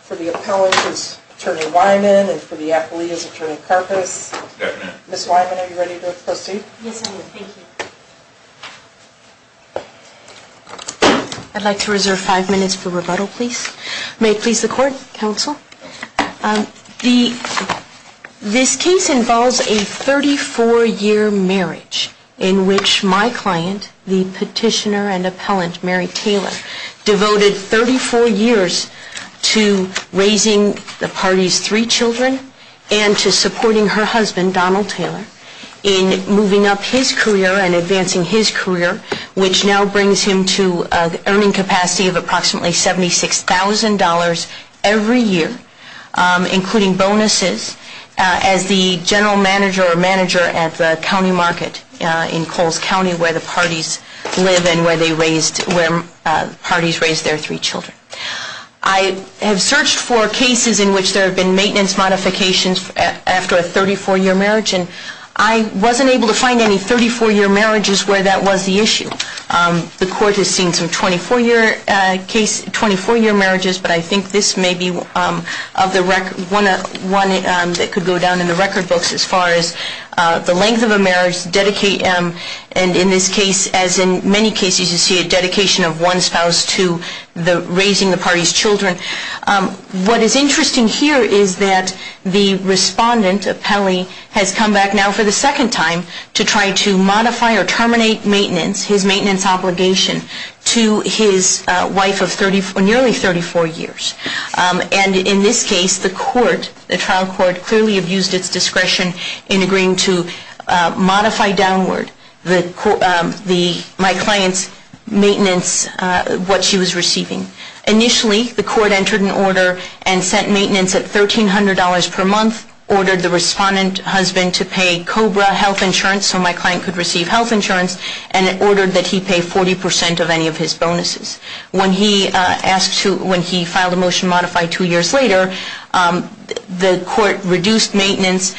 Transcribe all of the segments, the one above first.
for the appellant is Attorney Wyman and for the affiliate is Attorney Karpus. Ms. Wyman, are you ready to proceed? Yes, I am. Thank you. I'd like to reserve five minutes for rebuttal, please. May it please the Court, Counsel. This case involves a 34-year marriage in which my client, the petitioner and appellant, Mary Taylor, devoted 34 years to raising the party's three children and to supporting her husband, Donald Taylor, in moving up his career and advancing his career, which now brings him to an earning capacity of approximately $76,000 every year, including bonuses, as the general manager or manager at the county market in Coles County, where the parties live and where the parties raised their three children. I have searched for cases in which there have been maintenance modifications after a 34-year marriage, and I wasn't able to find any 34-year marriages where that was the issue. The Court has seen some 24-year marriages, but I think this may be one that could go down in the record books as far as the length of a marriage, and in this case, as in many cases, you see a dedication of one spouse to raising the party's children. What is interesting here is that the respondent, appellee, has come back now for the second time to try to modify or terminate maintenance, his maintenance obligation, to his wife of nearly 34 years. And in this case, the court, the trial court, clearly abused its discretion in agreeing to modify downward my client's maintenance, what she was receiving. Initially, the court entered an order and sent maintenance at $1,300 per month, ordered the respondent husband to pay COBRA health insurance so my client could receive health insurance, and ordered that he pay 40% of any of his bonuses. When he filed a motion to modify two years later, the court reduced maintenance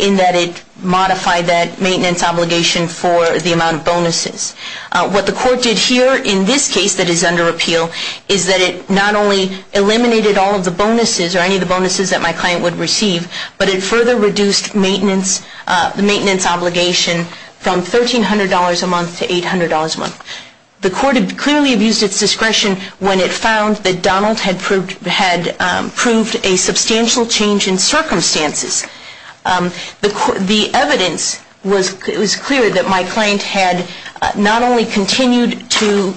in that it modified that maintenance obligation for the amount of bonuses. What the court did here in this case that is under appeal is that it not only eliminated all of the bonuses or any of the bonuses that my client would receive, but it further reduced the maintenance obligation from $1,300 a month to $800 a month. The court clearly abused its discretion when it found that Donald had proved a substantial change in circumstances. The evidence was clear that my client had not only continued to,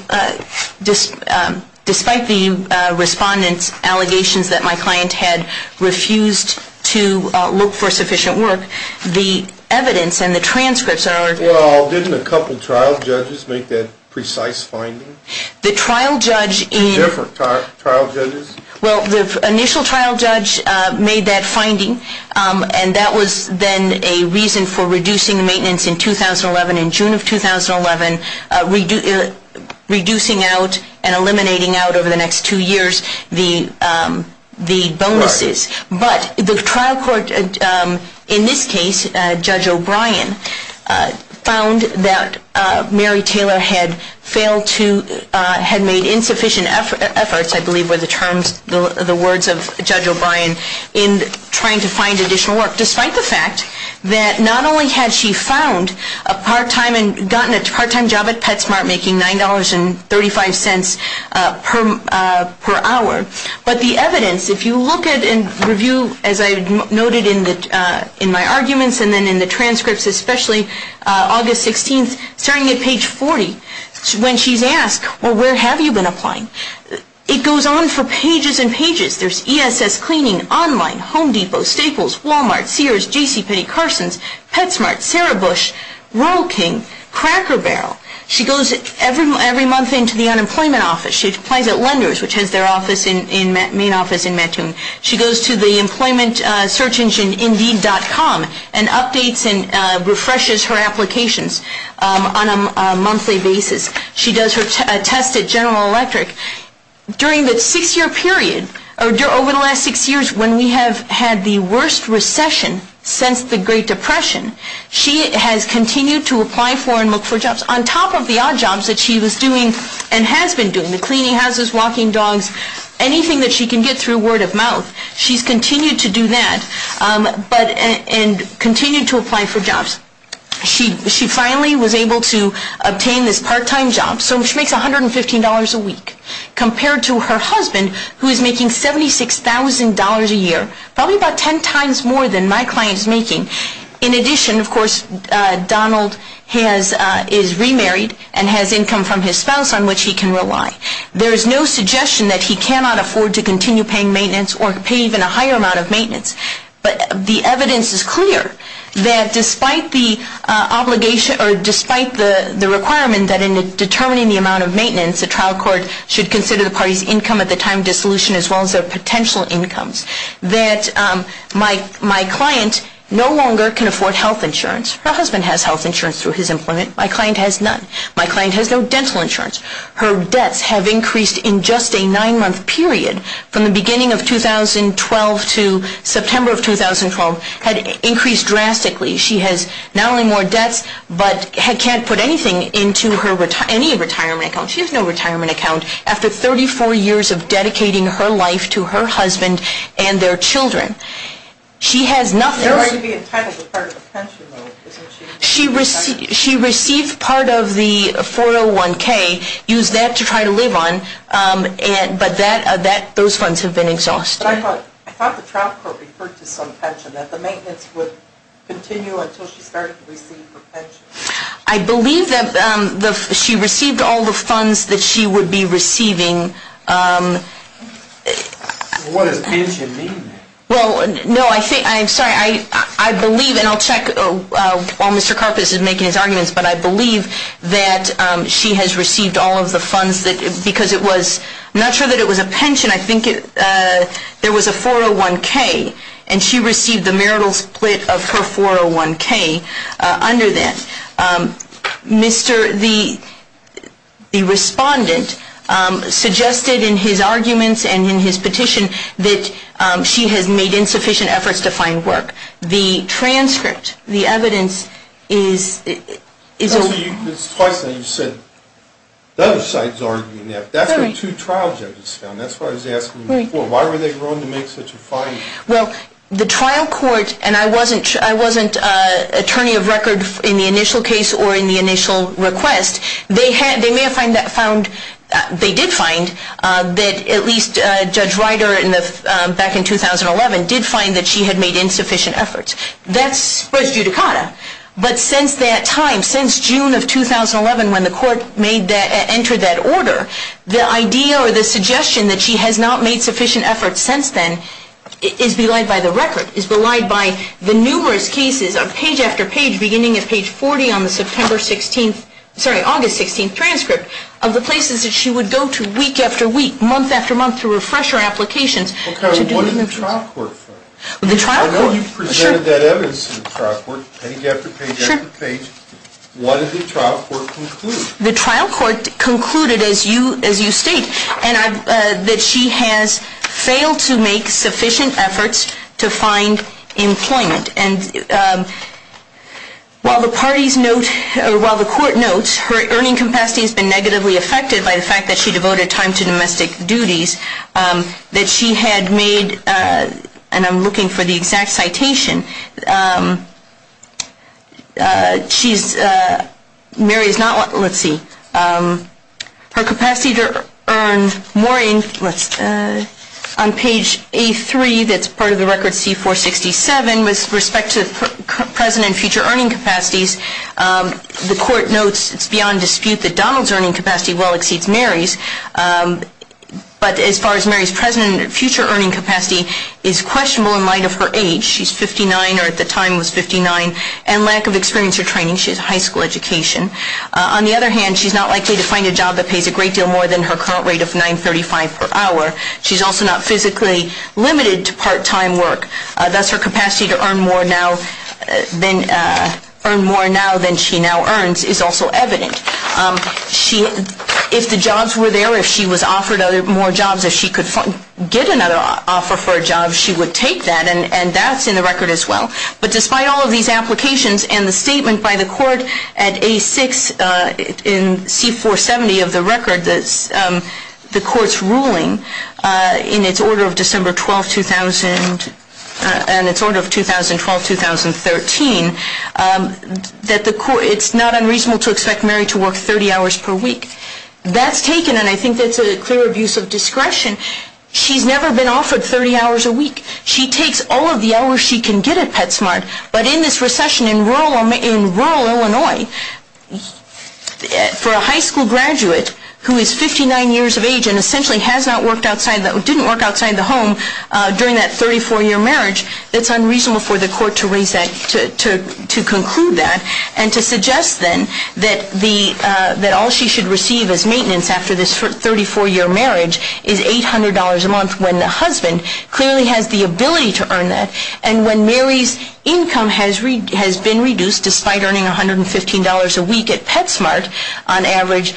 despite the respondent's allegations that my client had refused to look for sufficient work, the evidence and the transcripts are- Well, didn't a couple trial judges make that precise finding? The trial judge- Different trial judges? Well, the initial trial judge made that finding, and that was then a reason for reducing maintenance in 2011, in June of 2011, reducing out and eliminating out over the next two years the bonuses. Right. But the trial court in this case, Judge O'Brien, found that Mary Taylor had failed to- had made insufficient efforts, I believe were the terms, the words of Judge O'Brien, in trying to find additional work, despite the fact that not only had she found a part-time and gotten a part-time job at PetSmart making $9.35 per hour, but the evidence, if you look at and review, as I noted in my arguments and then in the transcripts, especially August 16th, starting at page 40, when she's asked, well, where have you been applying? It goes on for pages and pages. There's ESS Cleaning, Online, Home Depot, Staples, Walmart, Sears, JCPenney, Carson's, PetSmart, Sarah Bush, Rural King, Cracker Barrel. She goes every month into the unemployment office. She applies at Lenders, which has their main office in Mattoon. She goes to the employment search engine Indeed.com and updates and refreshes her applications on a monthly basis. She does her test at General Electric. During the six-year period, or over the last six years, when we have had the worst recession since the Great Depression, she has continued to apply for and look for jobs, on top of the odd jobs that she was doing and has been doing, the cleaning houses, walking dogs, anything that she can get through word of mouth. She's continued to do that and continued to apply for jobs. She finally was able to obtain this part-time job, which makes $115 a week, compared to her husband, who is making $76,000 a year, probably about ten times more than my client is making. In addition, of course, Donald is remarried and has income from his spouse on which he can rely. There is no suggestion that he cannot afford to continue paying maintenance or pay even a higher amount of maintenance. But the evidence is clear that despite the requirement that in determining the amount of maintenance, the trial court should consider the party's income at the time of dissolution as well as their potential incomes, that my client no longer can afford health insurance. Her husband has health insurance through his employment. My client has none. My client has no dental insurance. Her debts have increased in just a nine-month period from the beginning of 2012 to September of 2012, had increased drastically. She has not only more debts but can't put anything into any retirement account. She has no retirement account. After 34 years of dedicating her life to her husband and their children, she has nothing. She received part of the 401K, used that to try to live on, but those funds have been exhausted. I thought the trial court referred to some pension, that the maintenance would continue until she started to receive her pension. I believe that she received all the funds that she would be receiving. What does pension mean? Well, no, I'm sorry. I believe, and I'll check while Mr. Karpus is making his arguments, but I believe that she has received all of the funds because it was not sure that it was a pension. I think there was a 401K, and she received the marital split of her 401K under that. The respondent suggested in his arguments and in his petition that she has made insufficient efforts to find work. The transcript, the evidence is a lie. You said the other side is arguing that. That's what two trial judges found. That's what I was asking before. Why were they willing to make such a finding? Well, the trial court, and I wasn't attorney of record in the initial case or in the initial request, they did find that at least Judge Ryder back in 2011 did find that she had made insufficient efforts. That's prejudicata. But since that time, since June of 2011 when the court entered that order, the idea or the suggestion that she has not made sufficient efforts since then is belied by the record, is belied by the numerous cases of page after page beginning at page 40 on the September 16th, sorry, August 16th transcript of the places that she would go to week after week, month after month to refresh her applications. What did the trial court find? I know you presented that evidence to the trial court page after page after page. What did the trial court conclude? The trial court concluded, as you state, that she has failed to make sufficient efforts to find employment. And while the parties note, or while the court notes, her earning capacity has been negatively affected by the fact that she devoted time to domestic duties, that she had made, and I'm looking for the exact citation, she's, Mary is not, let's see, her capacity to earn more in, on page A3 that's part of the record C467 with respect to present and future earning capacities, the court notes it's beyond dispute that Donald's earning capacity well exceeds Mary's, but as far as Mary's present and future earning capacity is questionable in light of her age. She's 59, or at the time was 59, and lack of experience or training. She has a high school education. On the other hand, she's not likely to find a job that pays a great deal more than her current rate of $9.35 per hour. She's also not physically limited to part-time work. Thus, her capacity to earn more now than she now earns is also evident. If the jobs were there, if she was offered more jobs, if she could get another offer for a job, she would take that, and that's in the record as well. But despite all of these applications and the statement by the court at A6 in C470 of the record, the court's ruling in its order of December 12, 2000, and its order of 2012-2013, that the court, it's not unreasonable to expect Mary to work 30 hours per week. That's taken, and I think that's a clear abuse of discretion. She's never been offered 30 hours a week. She takes all of the hours she can get at PetSmart. But in this recession in rural Illinois, for a high school graduate who is 59 years of age and essentially has not worked outside, didn't work outside the home during that 34-year marriage, it's unreasonable for the court to raise that, to conclude that, and to suggest then that all she should receive as maintenance after this 34-year marriage is $800 a month when the husband clearly has the ability to earn that. And when Mary's income has been reduced despite earning $115 a week at PetSmart on average,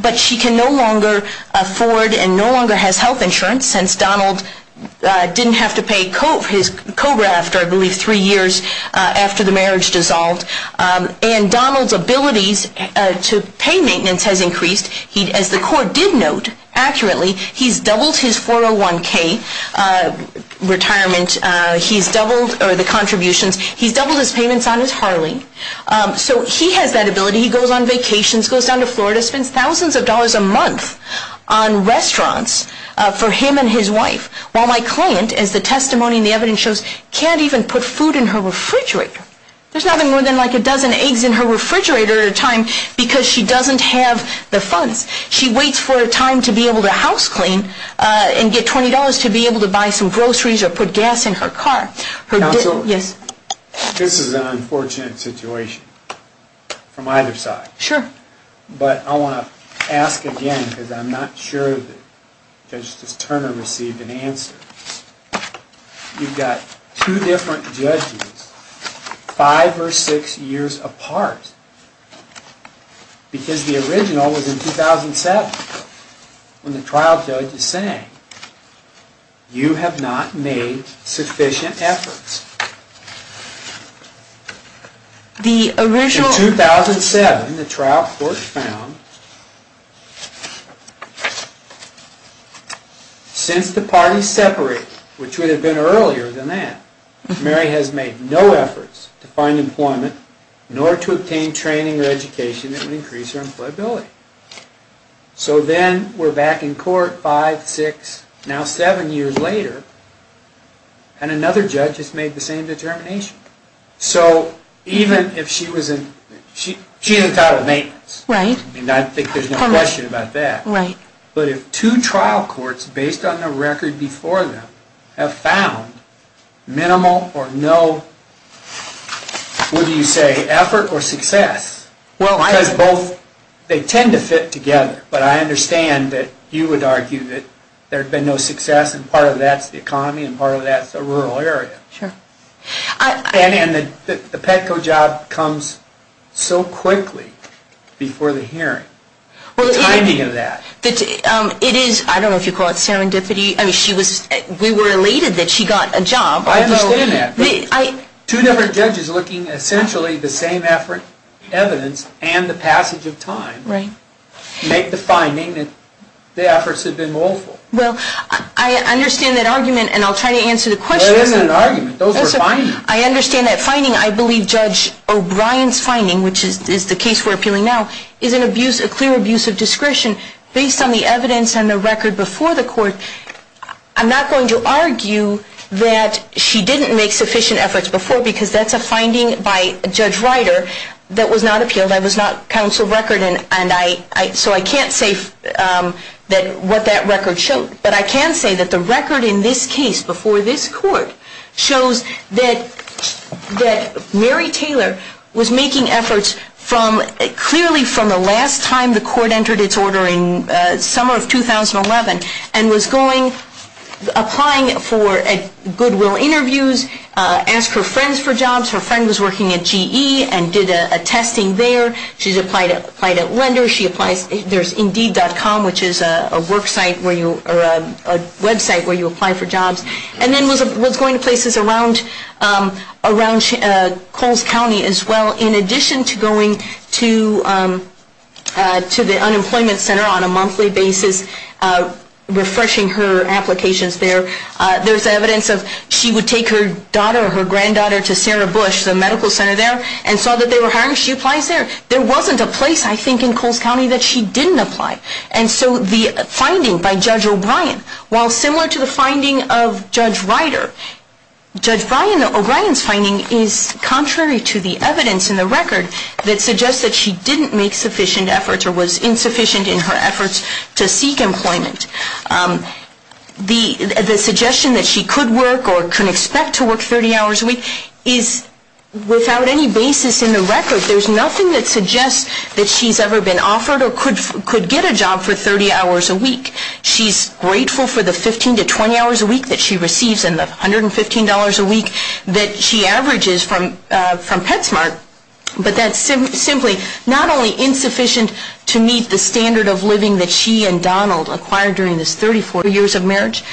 but she can no longer afford and no longer has health insurance since Donald didn't have to pay his COBRA after, I believe, three years after the marriage dissolved. And Donald's abilities to pay maintenance has increased. As the court did note accurately, he's doubled his 401K retirement. He's doubled the contributions. He's doubled his payments on his Harley. So he has that ability. He goes on vacations, goes down to Florida, spends thousands of dollars a month on restaurants for him and his wife, while my client, as the testimony and the evidence shows, can't even put food in her refrigerator. There's nothing more than like a dozen eggs in her refrigerator at a time because she doesn't have the funds. She waits for a time to be able to house clean and get $20 to be able to buy some groceries or put gas in her car. Counsel? Yes. This is an unfortunate situation from either side. Sure. But I want to ask again because I'm not sure that Justice Turner received an answer. You've got two different judges, five or six years apart, because the original was in 2007 when the trial judge is saying, you have not made sufficient efforts. In 2007, the trial court found, since the parties separated, which would have been earlier than that, Mary has made no efforts to find employment nor to obtain training or education that would increase her employability. So then we're back in court five, six, now seven years later, and another judge has made the same determination. So even if she was in, she's in total maintenance. Right. And I think there's no question about that. Right. But if two trial courts, based on the record before them, have found minimal or no, what do you say, effort or success? Well, because both, they tend to fit together. But I understand that you would argue that there had been no success, and part of that's the economy and part of that's the rural area. Sure. And the Petco job comes so quickly before the hearing, the timing of that. It is, I don't know if you call it serendipity. I mean, we were elated that she got a job. I understand that. Two different judges looking essentially the same effort, evidence, and the passage of time. Right. Make the finding that the efforts have been woeful. Well, I understand that argument, and I'll try to answer the question. It isn't an argument. Those are findings. I understand that finding. I believe Judge O'Brien's finding, which is the case we're appealing now, is a clear abuse of discretion based on the evidence and the record before the court. I'm not going to argue that she didn't make sufficient efforts before, because that's a finding by Judge Ryder that was not appealed. That was not counsel record, and so I can't say what that record showed. But I can say that the record in this case before this court shows that Mary Taylor was making efforts from, clearly from the last time the court entered its order in summer of 2011 and was going, applying for goodwill interviews, asked her friends for jobs. Her friend was working at GE and did a testing there. She's applied at Lender. There's Indeed.com, which is a website where you apply for jobs, and then was going to places around Coles County as well, and in addition to going to the unemployment center on a monthly basis, refreshing her applications there, there's evidence of she would take her daughter, her granddaughter, to Sarah Bush, the medical center there, and saw that they were hiring, she applies there. There wasn't a place, I think, in Coles County that she didn't apply. And so the finding by Judge O'Brien, while similar to the finding of Judge Ryder, Judge O'Brien's finding is contrary to the evidence in the record that suggests that she didn't make sufficient efforts or was insufficient in her efforts to seek employment. The suggestion that she could work or could expect to work 30 hours a week is without any basis in the record. There's nothing that suggests that she's ever been offered or could get a job for 30 hours a week. She's grateful for the 15 to 20 hours a week that she receives and the $115 a week that she averages from PetSmart, but that's simply not only insufficient to meet the standard of living that she and Donald acquired during this 34 years of marriage,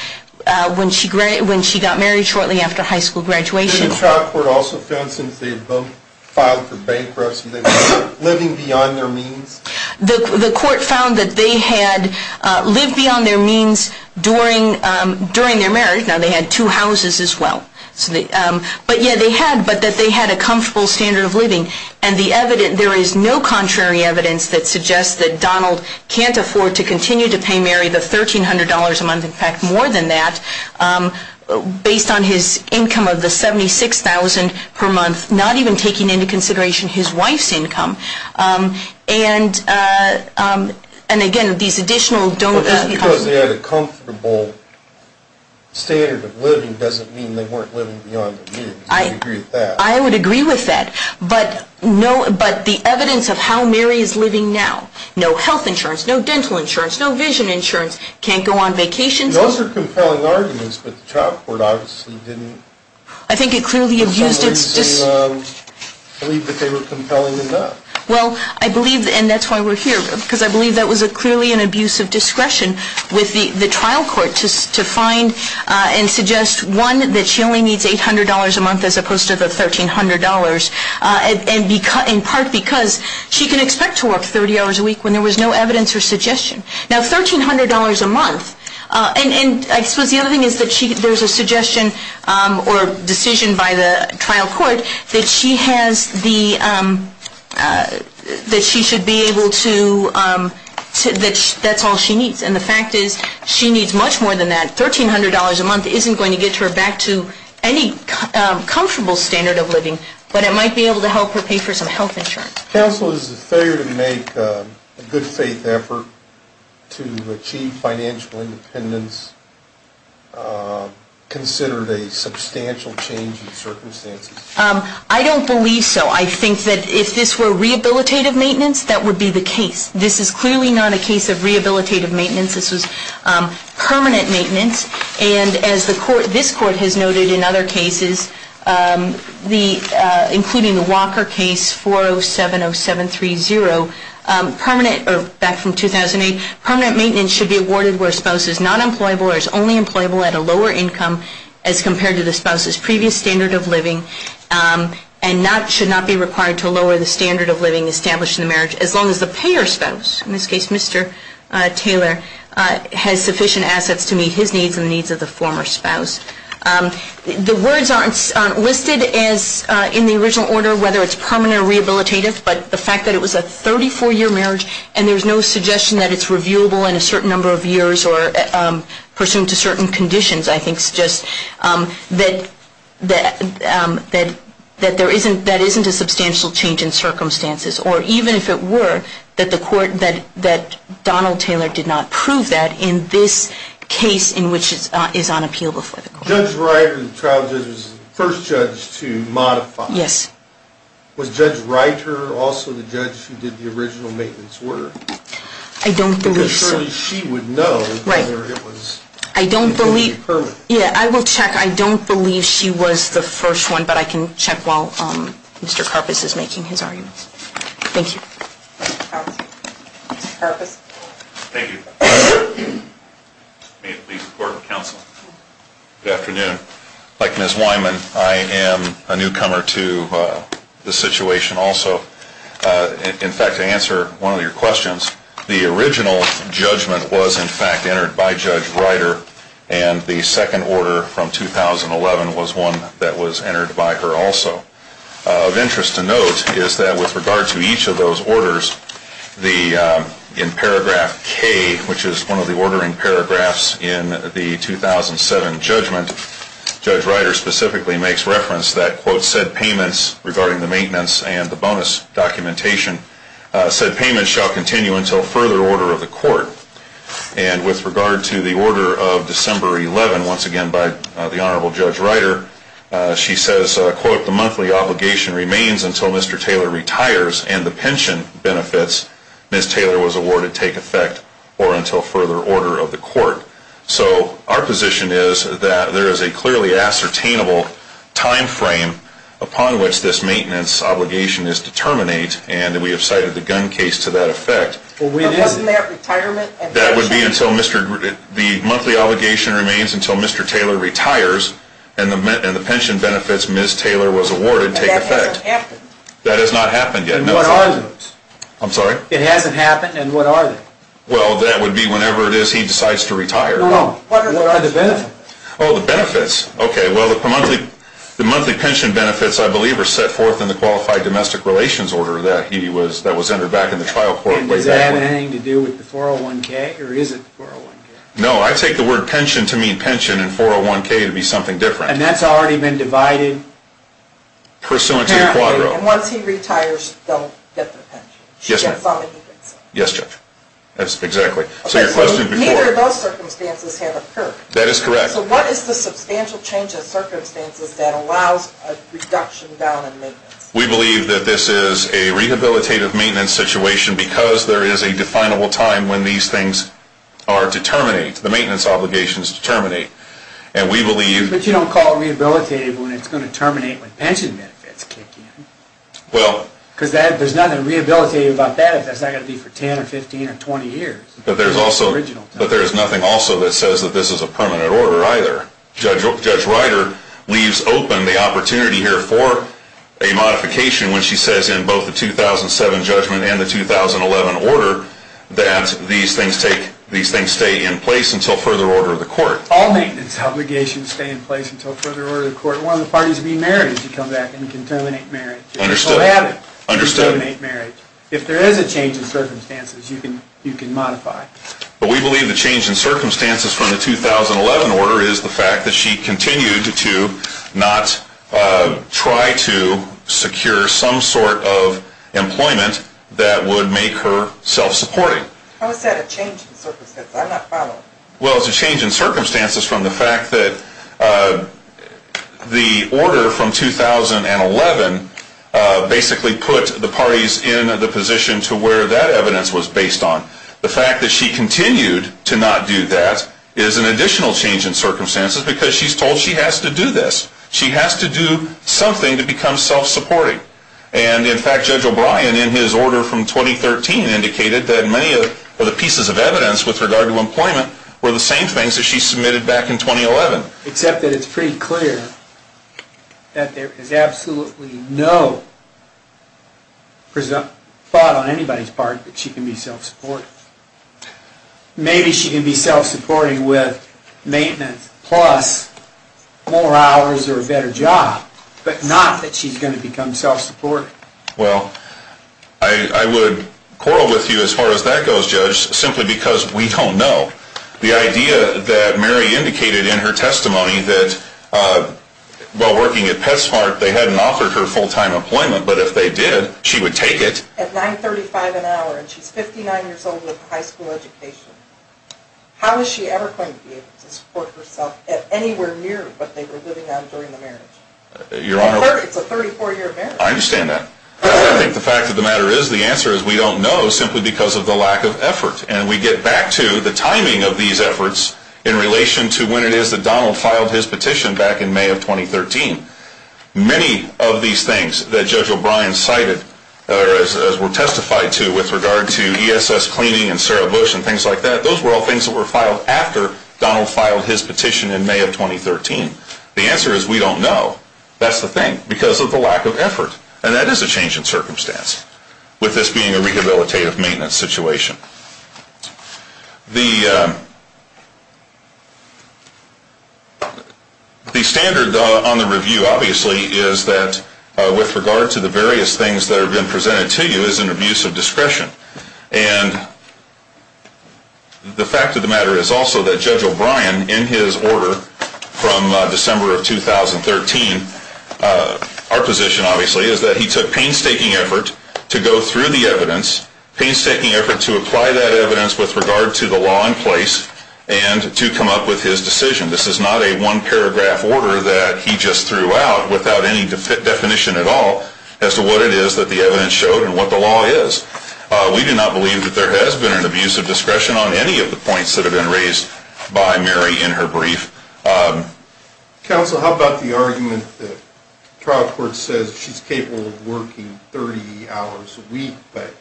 when she got married shortly after high school graduation. Was the trial court also found, since they both filed for bankruptcy, they were living beyond their means? The court found that they had lived beyond their means during their marriage. Now, they had two houses as well. But, yeah, they had, but that they had a comfortable standard of living. And there is no contrary evidence that suggests that Donald can't afford to continue to pay Mary the $1,300 a month, in fact more than that, based on his income of the $76,000 per month, not even taking into consideration his wife's income. And, again, these additional don't... But just because they had a comfortable standard of living doesn't mean they weren't living beyond their means. I agree with that. I would agree with that. But the evidence of how Mary is living now, no health insurance, no dental insurance, no vision insurance, can't go on vacations... Those are compelling arguments, but the trial court obviously didn't... I think it clearly abused its... I believe that they were compelling enough. Well, I believe, and that's why we're here, because I believe that was clearly an abuse of discretion with the trial court to find and suggest, one, that she only needs $800 a month as opposed to the $1,300, in part because she can expect to work 30 hours a week when there was no evidence or suggestion. Now, $1,300 a month... And I suppose the other thing is that there's a suggestion or decision by the trial court that she has the... that she should be able to... that that's all she needs. And the fact is she needs much more than that. $1,300 a month isn't going to get her back to any comfortable standard of living, but it might be able to help her pay for some health insurance. Counsel, is the failure to make a good faith effort to achieve financial independence considered a substantial change in circumstances? I don't believe so. I think that if this were rehabilitative maintenance, that would be the case. This is clearly not a case of rehabilitative maintenance. This was permanent maintenance. And as the court... this court has noted in other cases, the... including the Walker case, 4070730, permanent... or back from 2008, permanent maintenance should be awarded where a spouse is not employable or is only employable at a lower income as compared to the spouse's previous standard of living and not... should not be required to lower the standard of living established in the marriage as long as the payer spouse, in this case Mr. Taylor, has sufficient assets to meet his needs and the needs of the former spouse. The words aren't listed as in the original order whether it's permanent or rehabilitative, but the fact that it was a 34-year marriage and there's no suggestion that it's reviewable in a certain number of years or pursuant to certain conditions, I think, suggests that there isn't... that isn't a substantial change in circumstances. Or even if it were, that the court... that Donald Taylor did not prove that in this case in which it is unappealable for the court. Judge Ryder, the trial judge, was the first judge to modify... Yes. Was Judge Ryder also the judge who did the original maintenance order? I don't believe so. Because surely she would know... Right. ...whether it was... I don't believe... ...permanent. Yeah, I will check. I don't believe she was the first one, but I can check while Mr. Karpus is making his arguments. Thank you. Mr. Karpus. Thank you. May it please the Court of Counsel. Good afternoon. Like Ms. Wyman, I am a newcomer to the situation also. In fact, to answer one of your questions, the original judgment was in fact entered by Judge Ryder and the second order from 2011 was one that was entered by her also. Of interest to note is that with regard to each of those orders, in paragraph K, which is one of the ordering paragraphs in the 2007 judgment, Judge Ryder specifically makes reference that, quote, said payments regarding the maintenance and the bonus documentation, said payments shall continue until further order of the court. And with regard to the order of December 11, once again by the Honorable Judge Ryder, she says, quote, the monthly obligation remains until Mr. Taylor retires and the pension benefits, Ms. Taylor was awarded, take effect or until further order of the court. So our position is that there is a clearly ascertainable time frame upon which this maintenance obligation is to terminate and we have cited the gun case to that effect. That would be until Mr. Taylor retires and the pension benefits, Ms. Taylor was awarded, take effect. That has not happened yet. What are those? I'm sorry? It hasn't happened and what are they? Well, that would be whenever it is he decides to retire. No, no. What are the benefits? Oh, the benefits. Okay, well, the monthly pension benefits, I believe, are set forth in the qualified domestic relations order that was entered back in the trial court way back when. And does that have anything to do with the 401K or is it the 401K? No, I take the word pension to mean pension and 401K to be something different. And that's already been divided? Pursuant to the quadro. And once he retires, they'll get their pension. Yes, Judge. Yes, Judge. That's exactly. Neither of those circumstances have occurred. That is correct. So what is the substantial change of circumstances that allows a reduction down in maintenance? We believe that this is a rehabilitative maintenance situation because there is a definable time when these things are to terminate, the maintenance obligations to terminate. But you don't call it rehabilitative when it's going to terminate when pension benefits kick in. Because there's nothing rehabilitative about that if that's not going to be for 10 or 15 or 20 years. But there's nothing also that says that this is a permanent order either. Judge Ryder leaves open the opportunity here for a modification when she says in both the 2007 judgment and the 2011 order that these things stay in place until further order of the court. All maintenance obligations stay in place until further order of the court. One of the parties being married, if you come back, and you can terminate marriage. Understood. If there is a change in circumstances, you can modify. But we believe the change in circumstances from the 2011 order is the fact that she continued to not try to secure some sort of employment that would make her self-supporting. How is that a change in circumstances? I'm not following. Well, it's a change in circumstances from the fact that the order from 2011 basically put the parties in the position to where that evidence was based on. The fact that she continued to not do that is an additional change in circumstances because she's told she has to do this. She has to do something to become self-supporting. And, in fact, Judge O'Brien in his order from 2013 indicated that many of the pieces of evidence with regard to employment were the same things that she submitted back in 2011. Except that it's pretty clear that there is absolutely no thought on anybody's part that she can be self-supporting. Maybe she can be self-supporting with maintenance plus more hours or a better job, but not that she's going to become self-supporting. Well, I would quarrel with you as far as that goes, Judge, simply because we don't know. The idea that Mary indicated in her testimony that while working at PetSmart they hadn't offered her full-time employment, but if they did, she would take it. At $9.35 an hour and she's 59 years old with a high school education, how is she ever going to be able to support herself at anywhere near what they were living on during the marriage? It's a 34-year marriage. I understand that. I think the fact of the matter is the answer is we don't know simply because of the lack of effort. And we get back to the timing of these efforts in relation to when it is that Donald filed his petition back in May of 2013. Many of these things that Judge O'Brien cited as were testified to with regard to ESS cleaning and Sarah Bush and things like that, those were all things that were filed after Donald filed his petition in May of 2013. The answer is we don't know. That's the thing, because of the lack of effort. And that is a change in circumstance with this being a rehabilitative maintenance situation. The standard on the review, obviously, is that with regard to the various things that have been presented to you is an abuse of discretion. And the fact of the matter is also that Judge O'Brien, in his order from December of 2013, our position, obviously, is that he took painstaking effort to go through the evidence, painstaking effort to apply that evidence with regard to the law in place, and to come up with his decision. This is not a one-paragraph order that he just threw out without any definition at all as to what it is that the evidence showed and what the law is. We do not believe that there has been an abuse of discretion on any of the points that have been raised by Mary in her brief. Counsel, how about the argument that the trial court says she's capable of working 30 hours a week, but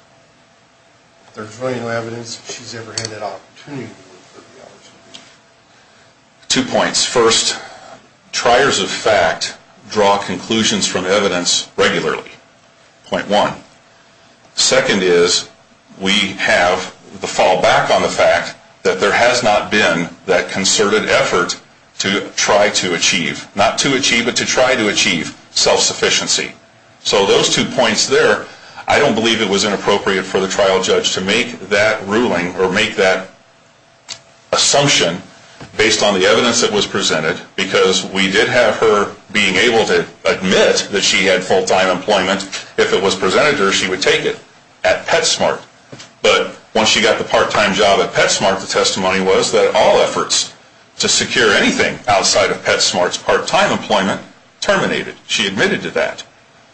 there's no evidence that she's ever had that opportunity to work 30 hours a week? Two points. First, triers of fact draw conclusions from evidence regularly. Point one. Second is we have the fallback on the fact that there has not been that concerted effort to try to achieve. Not to achieve, but to try to achieve self-sufficiency. So those two points there, I don't believe it was inappropriate for the trial judge to make that ruling or make that assumption based on the evidence that was presented, because we did have her being able to admit that she had full-time employment if it was presented to her, she would take it at PetSmart. But once she got the part-time job at PetSmart, the testimony was that all efforts to secure anything outside of PetSmart's part-time employment terminated. She admitted to that.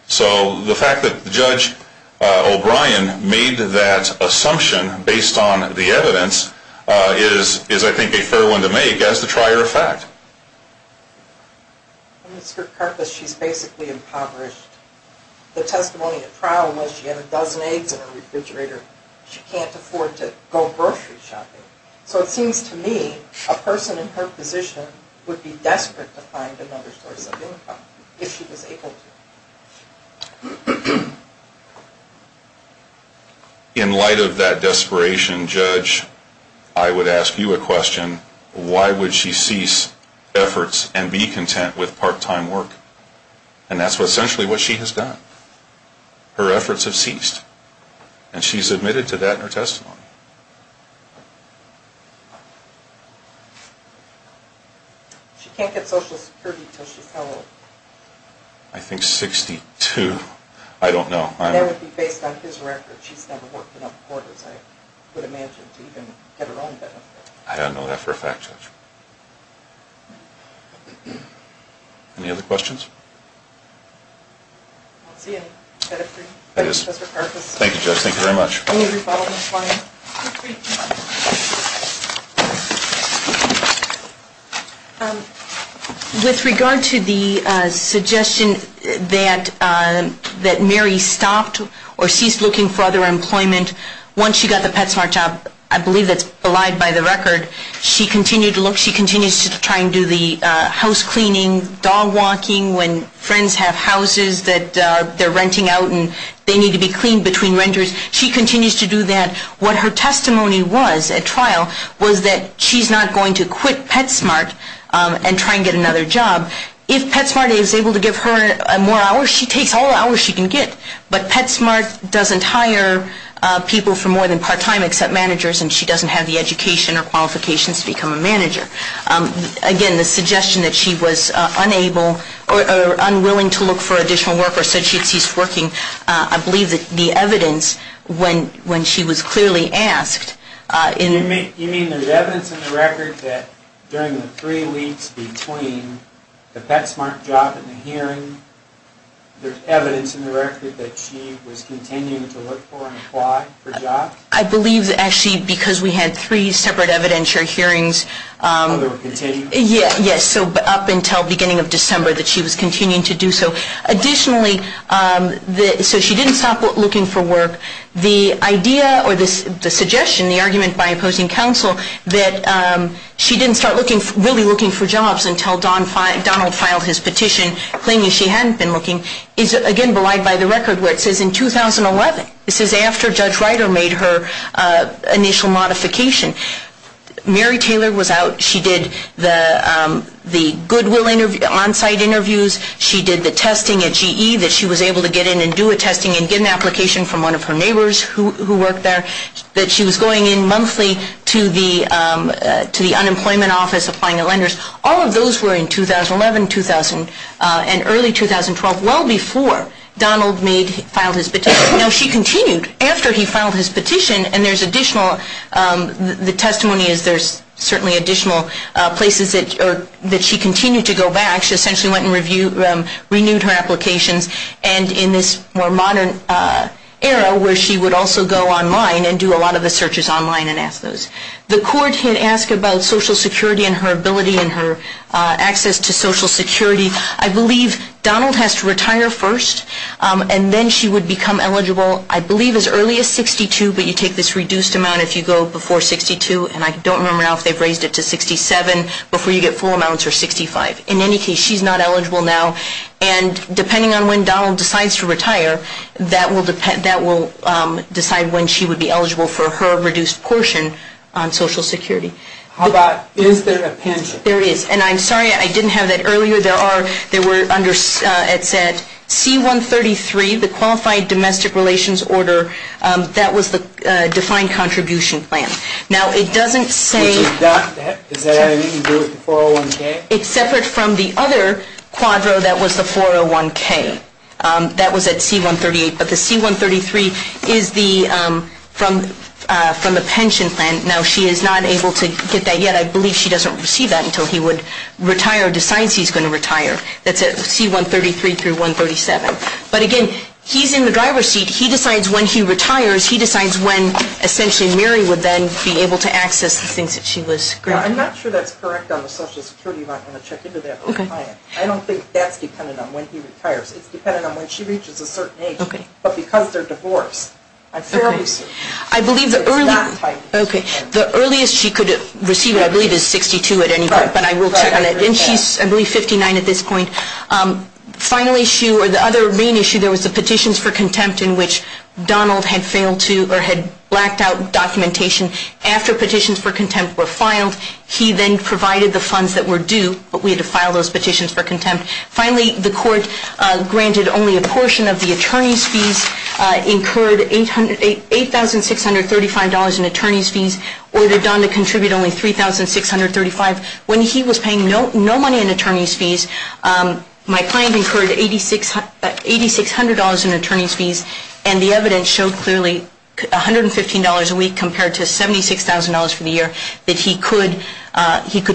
So the fact that Judge O'Brien made that assumption based on the evidence is, I think, a fair one to make as the trier of fact. Mr. Karpus, she's basically impoverished. The testimony at trial was she had a dozen eggs in her refrigerator. She can't afford to go grocery shopping. So it seems to me a person in her position would be desperate to find another source of income if she was able to. In light of that desperation, Judge, I would ask you a question. Why would she cease efforts and be content with part-time work? And that's essentially what she has done. Her efforts have ceased. And she's admitted to that in her testimony. She can't get Social Security until she's how old? I think 62. I don't know. That would be based on his record. She's never worked enough quarters, I would imagine, to even get her own benefit. I don't know that for a fact, Judge. Any other questions? I don't see any. Thank you, Justice Karpus. Thank you, Judge. Thank you very much. With regard to the suggestion that Mary stopped or ceased looking for other employment once she got the PetSmart job, I believe that's belied by the record. She continued to look. She continues to try and do the house cleaning, dog walking, when friends have houses that they're renting out and they need to be cleaned between renters. She continues to do that. What her testimony was at trial was that she's not going to quit PetSmart and try and get another job. If PetSmart is able to give her more hours, she takes all the hours she can get. But PetSmart doesn't hire people for more than part-time except managers, and she doesn't have the education or qualifications to become a manager. Again, the suggestion that she was unable or unwilling to look for additional work or said she had ceased working, I believe that the evidence, when she was clearly asked in the hearing You mean there's evidence in the record that during the three weeks between the PetSmart job and the hearing, there's evidence in the record that she was continuing to look for and apply for jobs? I believe that actually because we had three separate evidentiary hearings. Oh, they were continuing? Yes, so up until the beginning of December that she was continuing to do so. Additionally, so she didn't stop looking for work. The idea or the suggestion, the argument by opposing counsel, that she didn't start really looking for jobs until Donald filed his petition claiming she hadn't been looking, is again belied by the record where it says in 2011, this is after Judge Ryder made her initial modification, Mary Taylor was out. She did the goodwill on-site interviews. She did the testing at GE that she was able to get in and do a testing and get an application from one of her neighbors who worked there. That she was going in monthly to the unemployment office applying to lenders. All of those were in 2011, 2000 and early 2012, well before Donald filed his petition. Now she continued after he filed his petition and there's additional, the testimony is there's certainly additional places that she continued to go back. She essentially went and renewed her applications and in this more modern era where she would also go online and do a lot of the searches online and ask those. The court had asked about Social Security and her ability and her access to Social Security. I believe Donald has to retire first and then she would become eligible I believe as early as 62, but you take this reduced amount if you go before 62 and I don't remember now if they've raised it to 67 before you get full amounts or 65. In any case, she's not eligible now and depending on when Donald decides to retire, that will decide when she would be eligible for her reduced portion on Social Security. How about, is there a pension? There is and I'm sorry I didn't have that earlier. There were under, it said C-133, the Qualified Domestic Relations Order, that was the defined contribution plan. Now it doesn't say. Is that anything to do with the 401K? It's separate from the other quadro that was the 401K. That was at C-138, but the C-133 is from the pension plan. Now she is not able to get that yet. I believe she doesn't receive that until he would retire or decides he's going to retire. That's at C-133 through 137. But again, he's in the driver's seat. He decides when he retires. He decides when essentially Mary would then be able to access the things that she was granted. I'm not sure that's correct on the Social Security. You might want to check into that with a client. I don't think that's dependent on when he retires. It's dependent on when she reaches a certain age. But because they're divorced, I'm fairly certain. Okay. The earliest she could receive it, I believe, is 62 at any point. But I will check on it. And she's, I believe, 59 at this point. Final issue or the other main issue, there was the petitions for contempt in which Donald had failed to or had blacked out documentation after petitions for contempt were filed. He then provided the funds that were due. But we had to file those petitions for contempt. Finally, the court granted only a portion of the attorney's fees, incurred $8,635 in attorney's fees. Ordered Don to contribute only $3,635. When he was paying no money in attorney's fees, my client incurred $8,600 in attorney's fees. And the evidence showed clearly $115 a week compared to $76,000 for the year that he could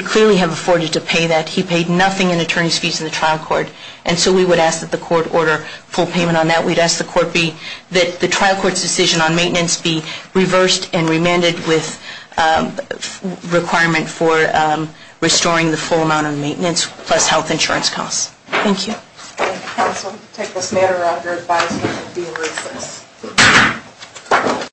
clearly have afforded to pay that. He paid nothing in attorney's fees in the trial court. And so we would ask that the court order full payment on that. We'd ask the court that the trial court's decision on maintenance be reversed and remanded with requirement for restoring the full amount of maintenance plus health insurance costs. Thank you. I also take this matter under advisement of being released.